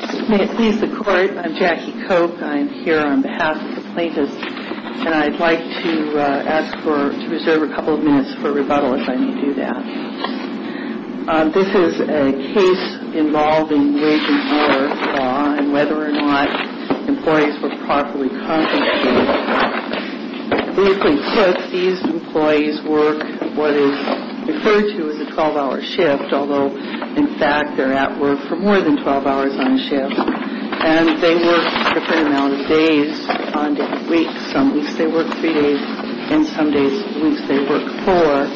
May it please the Court, I'm Jackie Koch. I'm here on behalf of the plaintiffs and I'd like to ask for, to reserve a couple of minutes for rebuttal if I may do that. This is a case involving wage and hour law and whether or not employees were properly compensated. We conclude these employees work what is referred to as a 12-hour shift, although in fact they're at work for more than 12 hours on a shift. And they work a different amount of days on different weeks. Some weeks they work three days and some days, weeks, they work four.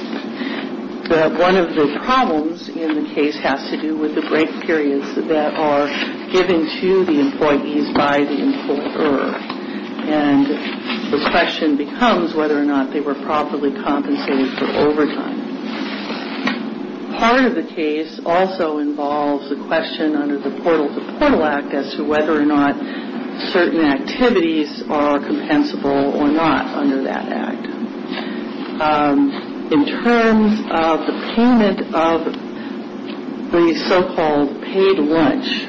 One of the problems in the case has to do with the break periods that are given to the employees by the employer. And the question becomes whether or not they were properly compensated for overtime. Part of the case also involves a question under the Portal to Portal Act as to whether or not certain activities are compensable or not under that Act. In terms of the payment of the so-called paid lunch,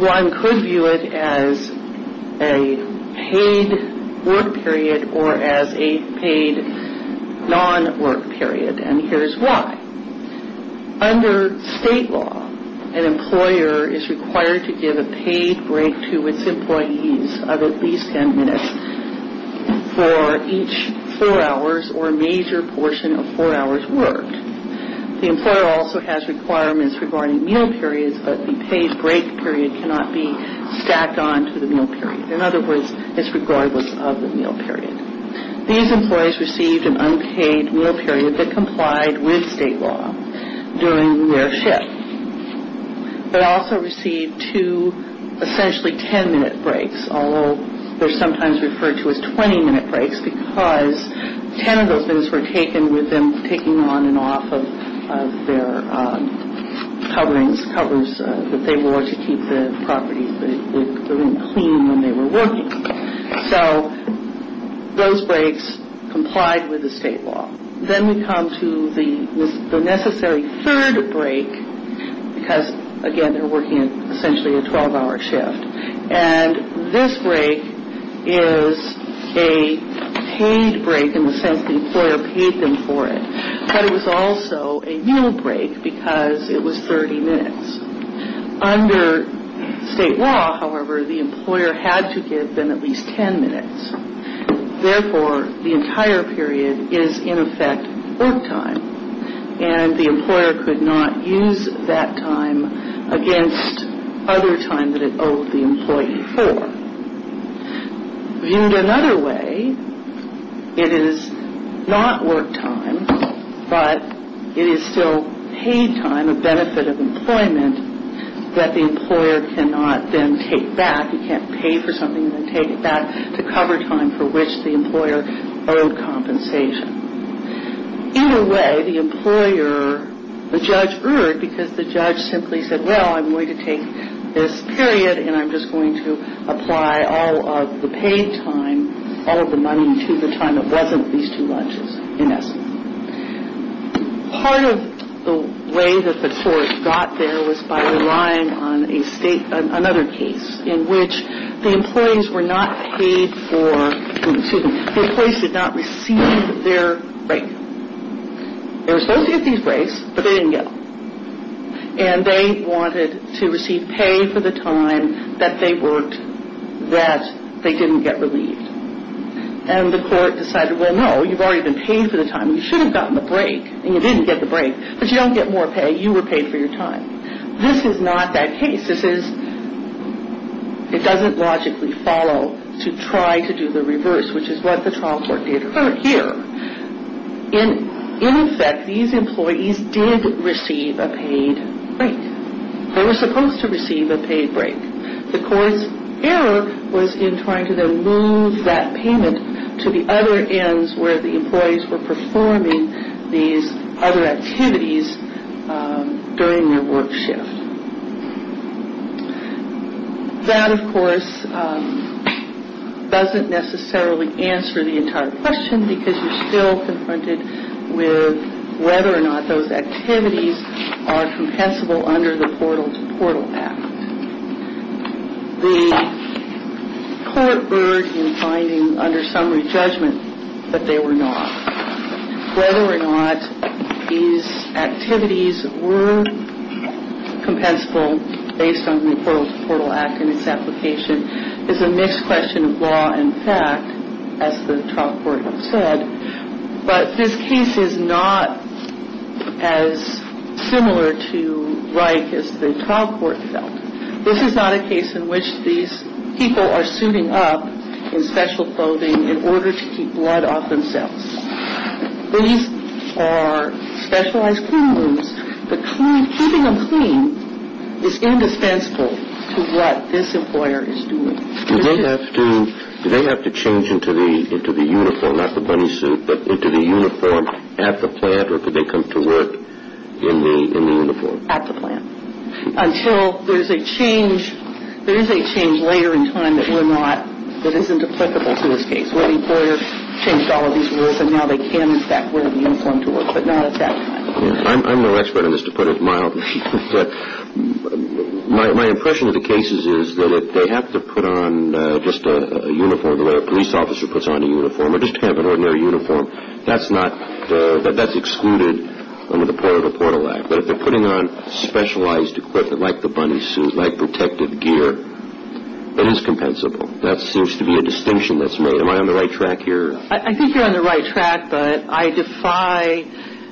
one could view it as a paid work period or as a paid non-work period and here's why. Under state law, an employer is required to give a paid break to its employees of at least ten minutes for each four hours or a major portion of four hours worked. The employer also has requirements regarding meal periods, but the paid break period cannot be stacked onto the meal period. In other words, it's regardless of the meal period. These employees received an unpaid meal period that complied with state law during their shift, but also received two essentially ten-minute breaks, although they're sometimes referred to as twenty-minute breaks because ten of those minutes were taken with them taking on and off of their coverings, covers that they wore to keep the property clean when they were working. So those breaks complied with the state law. Then we come to the necessary third break because, again, they're working essentially a twelve-hour shift. And this break is a paid break in the sense the employer paid them for it, but it was also a meal break because it was thirty minutes. Under state law, however, the employer had to give them at least ten minutes. Therefore, the entire period is, in effect, work time, and the employer could not use that time against other time that it owed the employee for. Viewed another way, it is not work time, but it is still paid time, a benefit of employment, that the employer cannot then take back. He can't pay for something and then take it back to cover time for which the employer owed compensation. In a way, the judge erred because the judge simply said, well, I'm going to take this period and I'm just going to apply all of the paid time, all of the money to the time that wasn't these two lunches in essence. Part of the way that the court got there was by relying on another case in which the employees did not receive their break. They were supposed to get these breaks, but they didn't get them. And they wanted to receive pay for the time that they worked that they didn't get relieved. And the court decided, well, no, you've already been paid for the time. You should have gotten the break, and you didn't get the break, but you don't get more pay. You were paid for your time. This is not that case. It doesn't logically follow to try to do the reverse, which is what the trial court did here. In effect, these employees did receive a paid break. They were supposed to receive a paid break. The court's error was in trying to then move that payment to the other ends where the employees were performing these other activities during their work shift. That, of course, doesn't necessarily answer the entire question because you're still confronted with whether or not those activities are compensable under the Portal to Portal Act. The court erred in finding under summary judgment that they were not. Whether or not these activities were compensable based on the Portal to Portal Act and its application is a mixed question of law and fact, as the trial court said. But this case is not as similar to Reich as the trial court felt. This is not a case in which these people are suiting up in special clothing in order to keep blood off themselves. These are specialized clean rooms, but keeping them clean is indispensable to what this employer is doing. Do they have to change into the uniform, not the bunny suit, but into the uniform at the plant, or could they come to work in the uniform? At the plant. Until there is a change later in time that isn't applicable to this case, where the employer changed all of these rules and now they can in fact wear the uniform to work, but not at that time. I'm no expert on this, to put it mildly. My impression of the cases is that they have to put on just a uniform the way a police officer puts on a uniform, or just have an ordinary uniform. That's excluded under the Portal to Portal Act. But if they're putting on specialized equipment like the bunny suit, like protective gear, it is compensable. That seems to be a distinction that's made. Am I on the right track here? I think you're on the right track, but I defy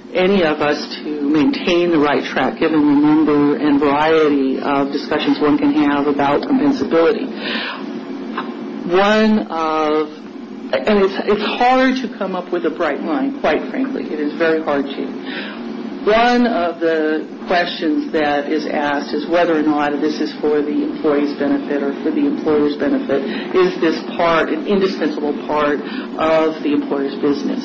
any of us to maintain the right track, given the number and variety of discussions one can have about compensability. One of – and it's hard to come up with a bright line, quite frankly. It is very hard to. One of the questions that is asked is whether or not this is for the employee's benefit or for the employer's benefit. Is this part an indispensable part of the employer's business?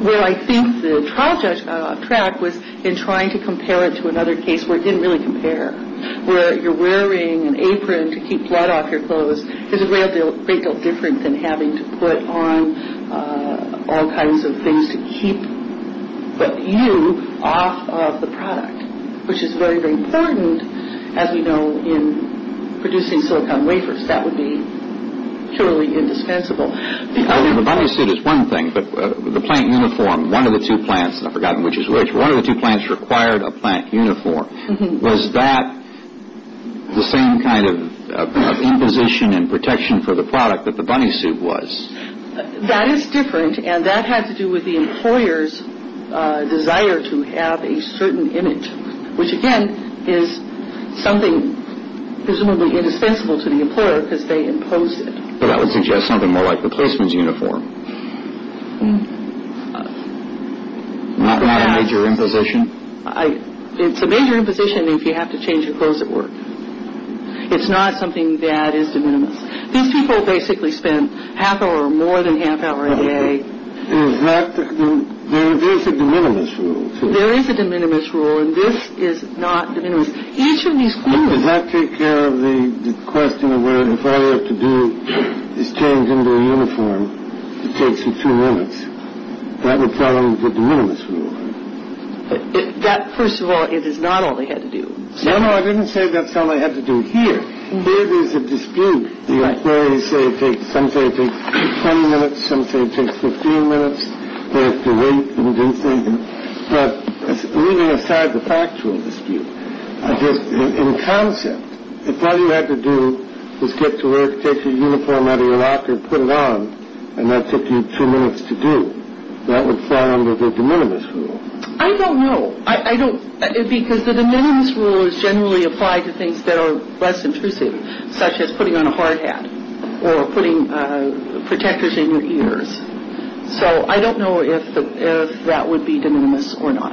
Well, I think the trial track was in trying to compare it to another case where it didn't really compare. Where you're wearing an apron to keep blood off your clothes is a great deal different than having to put on all kinds of things to keep you off of the product. Which is very, very important, as we know, in producing silicone wafers. That would be purely indispensable. The bunny suit is one thing, but the plant uniform, one of the two plants – I've forgotten which is which – one of the two plants required a plant uniform. Was that the same kind of imposition and protection for the product that the bunny suit was? That is different, and that had to do with the employer's desire to have a certain image. Which, again, is something presumably indispensable to the employer because they imposed it. That would suggest something more like the placement uniform. Not a major imposition? It's a major imposition if you have to change your clothes at work. It's not something that is de minimis. These people basically spent half an hour or more than half an hour a day. There is a de minimis rule. There is a de minimis rule, and this is not de minimis. Each of these clothes – Does that take care of the question of where if all you have to do is change into a uniform, it takes you two minutes? That would tell them the de minimis rule. That, first of all, it is not all they had to do. No, no, I didn't say that's all they had to do here. There is a dispute. Some say it takes 20 minutes. Some say it takes 15 minutes. They have to wait and do things. But leaving aside the factual dispute, in concept, if all you had to do was get to work, take your uniform out of your locker, put it on, and that took you two minutes to do, that would fall under the de minimis rule. I don't know. Because the de minimis rule is generally applied to things that are less intrusive, such as putting on a hard hat or putting protectors in your ears. So I don't know if that would be de minimis or not.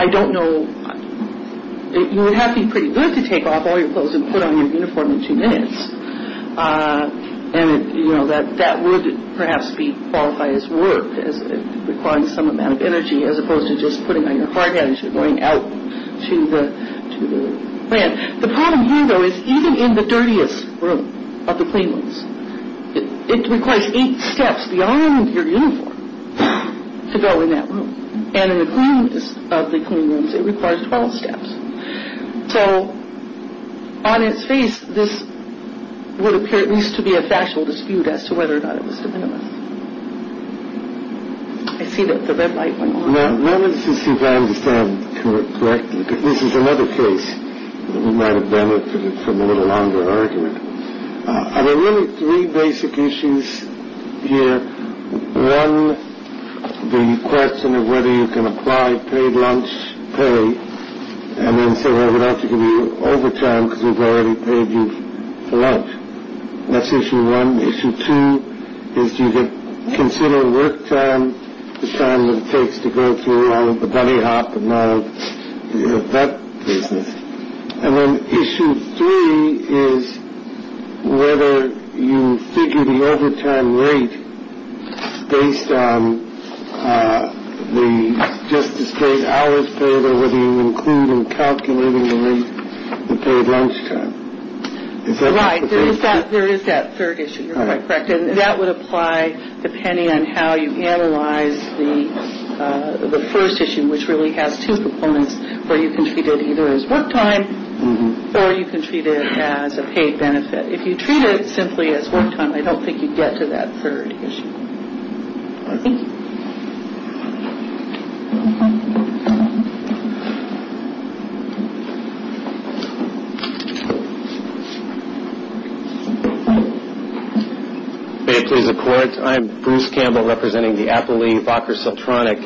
I don't know. It would have to be pretty good to take off all your clothes and put on your uniform in two minutes. And, you know, that would perhaps qualify as work, as it requires some amount of energy as opposed to just putting on your hard hat and going out to the plant. The problem here, though, is even in the dirtiest room of the clean rooms, it requires eight steps beyond your uniform to go in that room. And in the cleanest of the clean rooms, it requires 12 steps. So on its face, this would appear at least to be a factual dispute as to whether or not it was de minimis. I see that the red light went off. Now, let me see if I understand correctly, because this is another case that we might have benefited from a little longer argument. Are there really three basic issues here? One, the question of whether you can apply paid lunch, pay, and then say, well, we'd have to give you overtime because we've already paid you for lunch. That's issue one. Issue two is do you consider work time, the time that it takes to go through all of the belly hop and all of that business. And then issue three is whether you figure the overtime rate based on the just-as-paid hours paid or whether you include in calculating the rate of paid lunch time. Right. There is that third issue. You're quite correct. And that would apply depending on how you analyze the first issue, which really has two proponents where you can treat it either as work time or you can treat it as a paid benefit. If you treat it simply as work time, I don't think you'd get to that third issue. May it please the Court. I'm Bruce Campbell representing the Appalachian Focker Sultronic.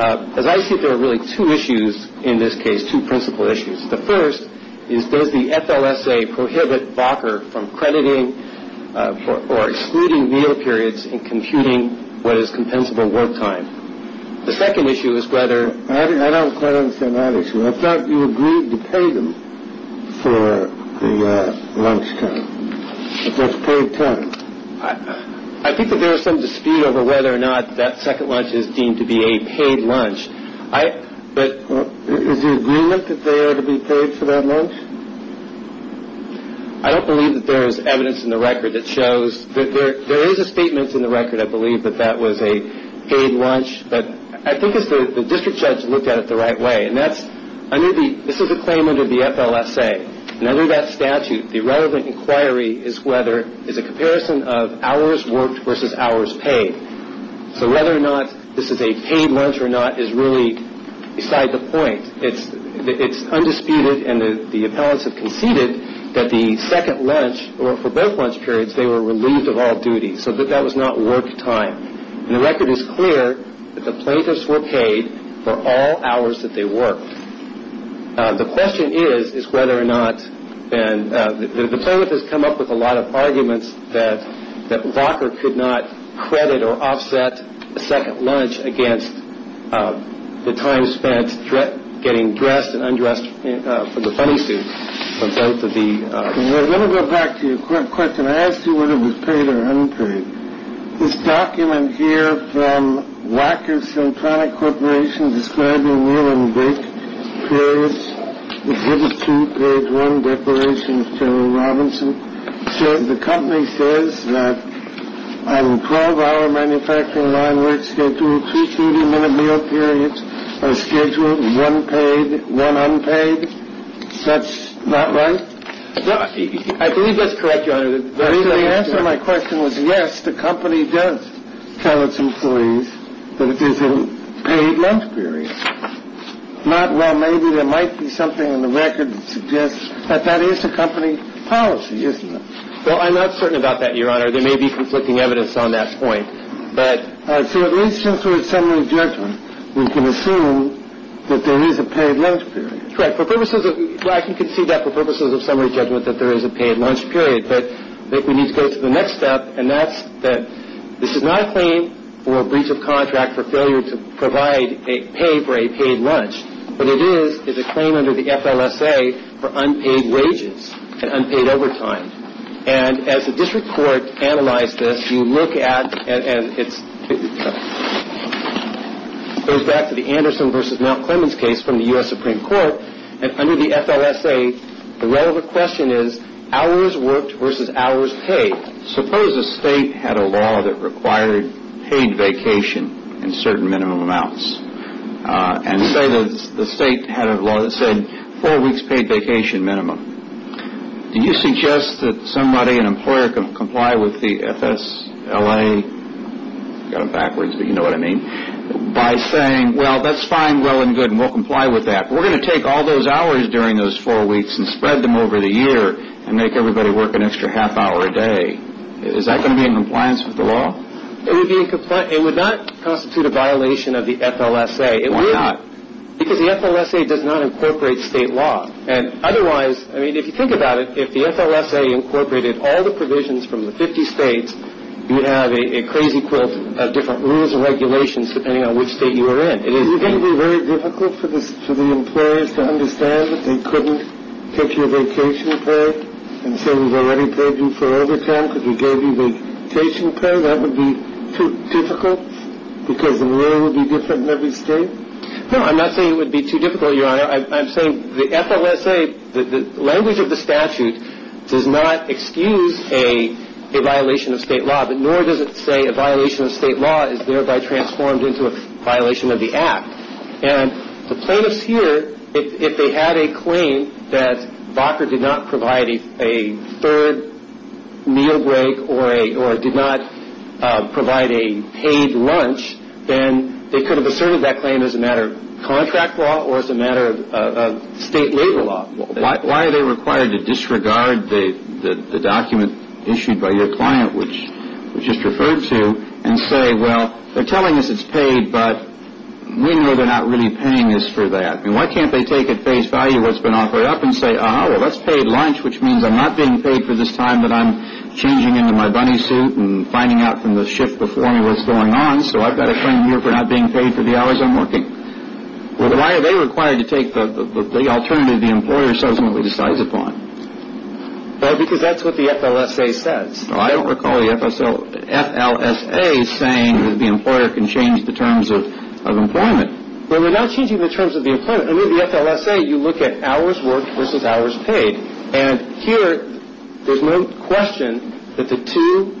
As I see it, there are really two issues in this case, two principal issues. The first is does the FLSA prohibit Focker from crediting or excluding meal periods in computing what is compensable work time? The second issue is whether. I don't quite understand that issue. I thought you agreed to pay them for the lunch time. That's paid time. I think that there is some dispute over whether or not that second lunch is deemed to be a paid lunch. Is the agreement that they are to be paid for that lunch? I don't believe that there is evidence in the record that shows. There is a statement in the record, I believe, that that was a paid lunch, but I think the district judge looked at it the right way. This is a claim under the FLSA. Under that statute, the relevant inquiry is a comparison of hours worked versus hours paid. So whether or not this is a paid lunch or not is really beside the point. It's undisputed, and the appellants have conceded, that the second lunch, or for both lunch periods, they were relieved of all duties, so that that was not work time. The record is clear that the plaintiffs were paid for all hours that they worked. The question is whether or not, and the plaintiff has come up with a lot of arguments that Walker could not credit or offset a second lunch against the time spent getting dressed and undressed for the funny suit for both of the... Let me go back to your question. I asked you whether it was paid or unpaid. This document here from Walker Syntronic Corporation describing meal and break periods is headed to page 1, Declaration of General Robinson. The company says that on a 12-hour manufacturing line work schedule, two 30-minute meal periods are scheduled, one paid, one unpaid. That's not right? I believe that's correct, Your Honor. The answer to my question was, yes, the company does tell its employees that it is a paid lunch period. Not, well, maybe there might be something in the record that suggests that that is the company policy, isn't it? Well, I'm not certain about that, Your Honor. There may be conflicting evidence on that point, but... So at least since we're at summary judgment, we can assume that there is a paid lunch period. Correct. Well, I can concede that for purposes of summary judgment that there is a paid lunch period, but we need to go to the next step, and that's that this is not a claim for breach of contract for failure to provide a pay for a paid lunch, but it is a claim under the FLSA for unpaid wages and unpaid overtime. And as the district court analyzed this, you look at, and it goes back to the Anderson v. Mount Clemens case from the U.S. Supreme Court, under the FLSA, the relevant question is hours worked versus hours paid. Suppose a state had a law that required paid vacation in certain minimum amounts, and say the state had a law that said four weeks paid vacation minimum. Do you suggest that somebody, an employer, can comply with the FSLA, got it backwards, but you know what I mean, by saying, well, that's fine, well and good, and we'll comply with that. We're going to take all those hours during those four weeks and spread them over the year and make everybody work an extra half hour a day. Is that going to be in compliance with the law? It would not constitute a violation of the FLSA. Why not? Because the FLSA does not incorporate state law. And otherwise, if you think about it, if the FLSA incorporated all the provisions from the 50 states, you have a crazy quilt of different rules and regulations depending on which state you are in. Is it going to be very difficult for the employers to understand that they couldn't take your vacation pay? And say we've already paid you for overtime because we gave you vacation pay? That would be too difficult because the rule would be different in every state? No, I'm not saying it would be too difficult, Your Honor. I'm saying the FLSA, the language of the statute does not excuse a violation of state law, but nor does it say a violation of state law is thereby transformed into a violation of the Act. And the plaintiffs here, if they had a claim that Vocker did not provide a third meal break or did not provide a paid lunch, then they could have asserted that claim as a matter of contract law or as a matter of state labor law. Why are they required to disregard the document issued by your client, which was just referred to, and say, well, they're telling us it's paid, but we know they're not really paying us for that. And why can't they take at face value what's been offered up and say, ah, well, that's paid lunch, which means I'm not being paid for this time that I'm changing into my bunny suit and finding out from the shift before me what's going on, so I've got a claim here for not being paid for the hours I'm working. Well, why are they required to take the alternative the employer subsequently decides upon? Well, because that's what the FLSA says. I don't recall the FLSA saying that the employer can change the terms of employment. Well, we're not changing the terms of the employment. I mean, the FLSA, you look at hours worked versus hours paid. And here, there's no question that the two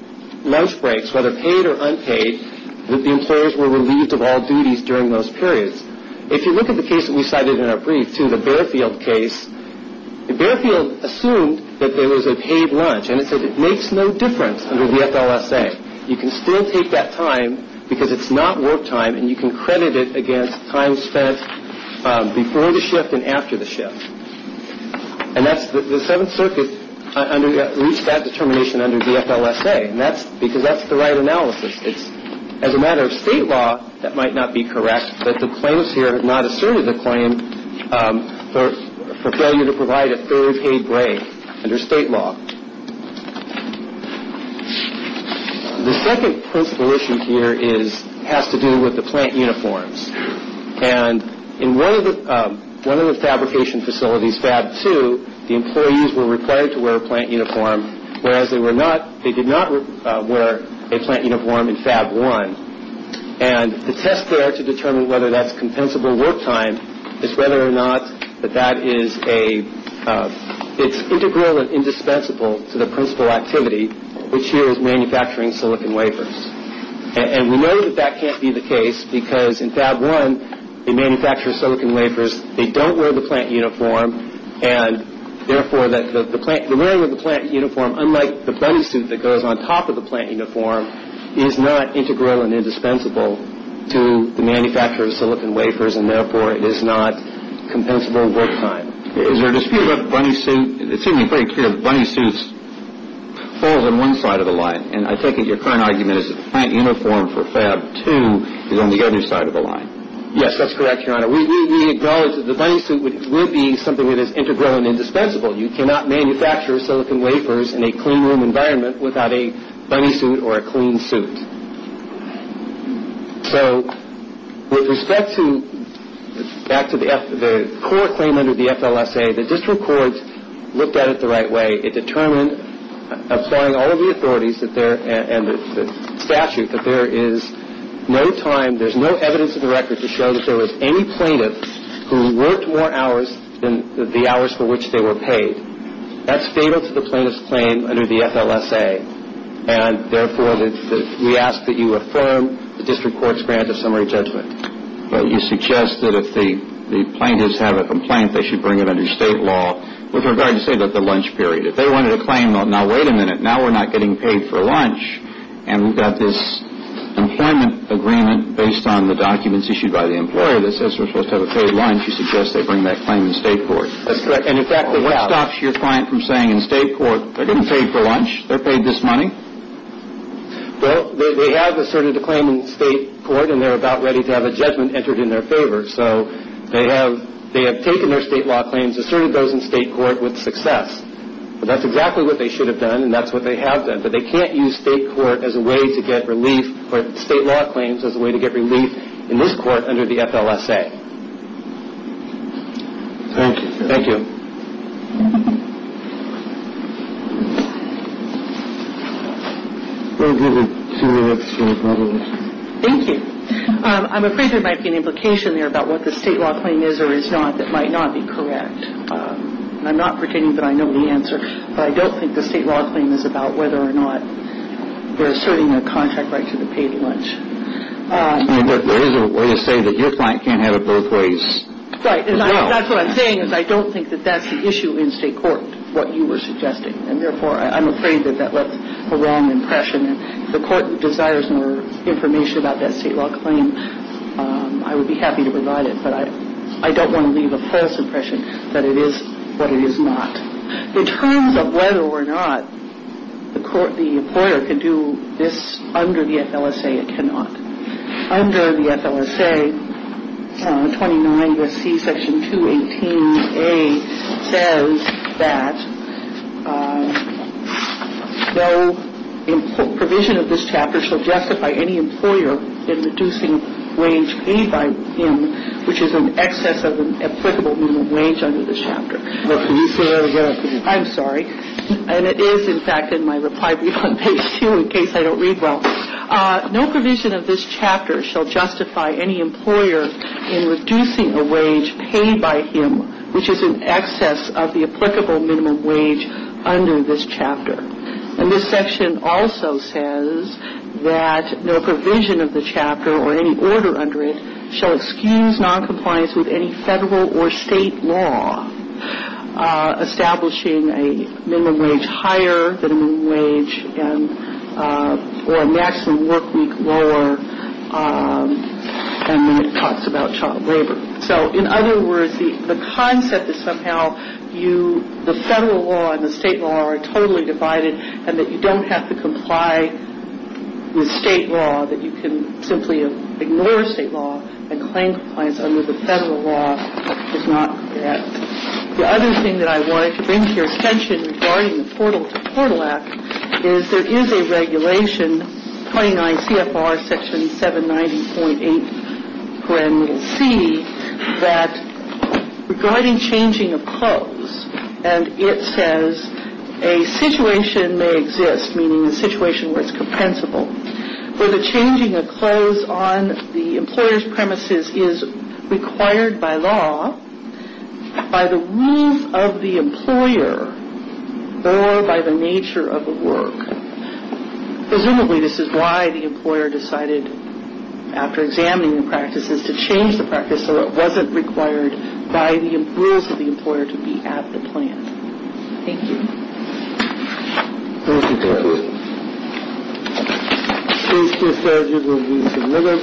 lunch breaks, whether paid or unpaid, that the employers were relieved of all duties during those periods. If you look at the case that we cited in our brief, too, the Barefield case, the Barefield assumed that there was a paid lunch, and it said it makes no difference under the FLSA. You can still take that time because it's not work time, and you can credit it against time spent before the shift and after the shift. And that's the Seventh Circuit reached that determination under the FLSA, because that's the right analysis. As a matter of state law, that might not be correct, but the claims here have not asserted the claim for failure to provide a third paid break under state law. The second principal issue here has to do with the plant uniforms. And in one of the fabrication facilities, Fab 2, the employees were required to wear a plant uniform, whereas they were not, they did not wear a plant uniform in Fab 1. And the test there to determine whether that's compensable work time is whether or not that that is a, it's integral and indispensable to the principal activity, which here is manufacturing silicon wafers. And we know that that can't be the case, because in Fab 1, they manufacture silicon wafers. They don't wear the plant uniform, and therefore, the wearing of the plant uniform, unlike the bunny suit that goes on top of the plant uniform, is not integral and indispensable to the manufacture of silicon wafers, and therefore, it is not compensable work time. Is there a dispute about the bunny suit? It seems pretty clear the bunny suit falls on one side of the line, and I think your current argument is that the plant uniform for Fab 2 is on the other side of the line. Yes, that's correct, Your Honor. We acknowledge that the bunny suit would be something that is integral and indispensable. You cannot manufacture silicon wafers in a clean room environment without a bunny suit or a clean suit. So with respect to, back to the court claim under the FLSA, the district court looked at it the right way. It determined, applying all of the authorities and the statute, that there is no time, for plaintiffs who worked more hours than the hours for which they were paid. That's fatal to the plaintiff's claim under the FLSA, and therefore, we ask that you affirm the district court's grant of summary judgment. But you suggest that if the plaintiffs have a complaint, they should bring it under state law with regard to, say, the lunch period. If they wanted a claim, now wait a minute, now we're not getting paid for lunch, and we've got this employment agreement based on the documents issued by the employer that says we're supposed to have a paid lunch, you suggest they bring that claim in state court. That's correct. And in fact, what stops your client from saying in state court, they're getting paid for lunch, they're paid this money? Well, they have asserted a claim in state court, and they're about ready to have a judgment entered in their favor. So they have taken their state law claims, asserted those in state court with success. But that's exactly what they should have done, and that's what they have done. But they can't use state court as a way to get relief, or state law claims as a way to get relief in this court under the FLSA. Thank you. Thank you. Thank you. I'm afraid there might be an implication there about what the state law claim is or is not that might not be correct. I'm not pretending that I know the answer, but I don't think the state law claim is about whether or not they're asserting their contract right to the paid lunch. There is a way to say that your client can't have it both ways. Right. And that's what I'm saying is I don't think that that's the issue in state court, what you were suggesting. And therefore, I'm afraid that that was a wrong impression. If the court desires more information about that state law claim, I would be happy to provide it. But I don't want to leave a false impression that it is what it is not. In terms of whether or not the employer can do this under the FLSA, it cannot. Under the FLSA 29 SC section 218A says that no provision of this chapter shall justify any employer in reducing wage paid by him which is in excess of an applicable minimum wage under this chapter. I'm sorry. And it is, in fact, in my reply brief on page 2 in case I don't read well. No provision of this chapter shall justify any employer in reducing a wage paid by him which is in excess of the applicable minimum wage under this chapter. And this section also says that no provision of the chapter or any order under it shall excuse noncompliance with any federal or state law establishing a minimum wage higher than a minimum wage or a maximum work week lower. And then it talks about child labor. So, in other words, the concept is somehow the federal law and the state law are totally divided and that you don't have to comply with state law, that you can simply ignore state law and claim compliance under the federal law is not correct. The other thing that I wanted to bring to your attention regarding the Portal to Portal Act is there is a regulation, 29 CFR section 790.8. And we'll see that regarding changing of clothes, and it says a situation may exist, meaning a situation where it's compensable, where the changing of clothes on the employer's premises is required by law, by the rules of the employer, or by the nature of the work. Presumably, this is why the employer decided, after examining the practices, to change the practice so it wasn't required by the rules of the employer to be at the plant. Thank you. Thank you, Dorothy. These two slides will be delivered.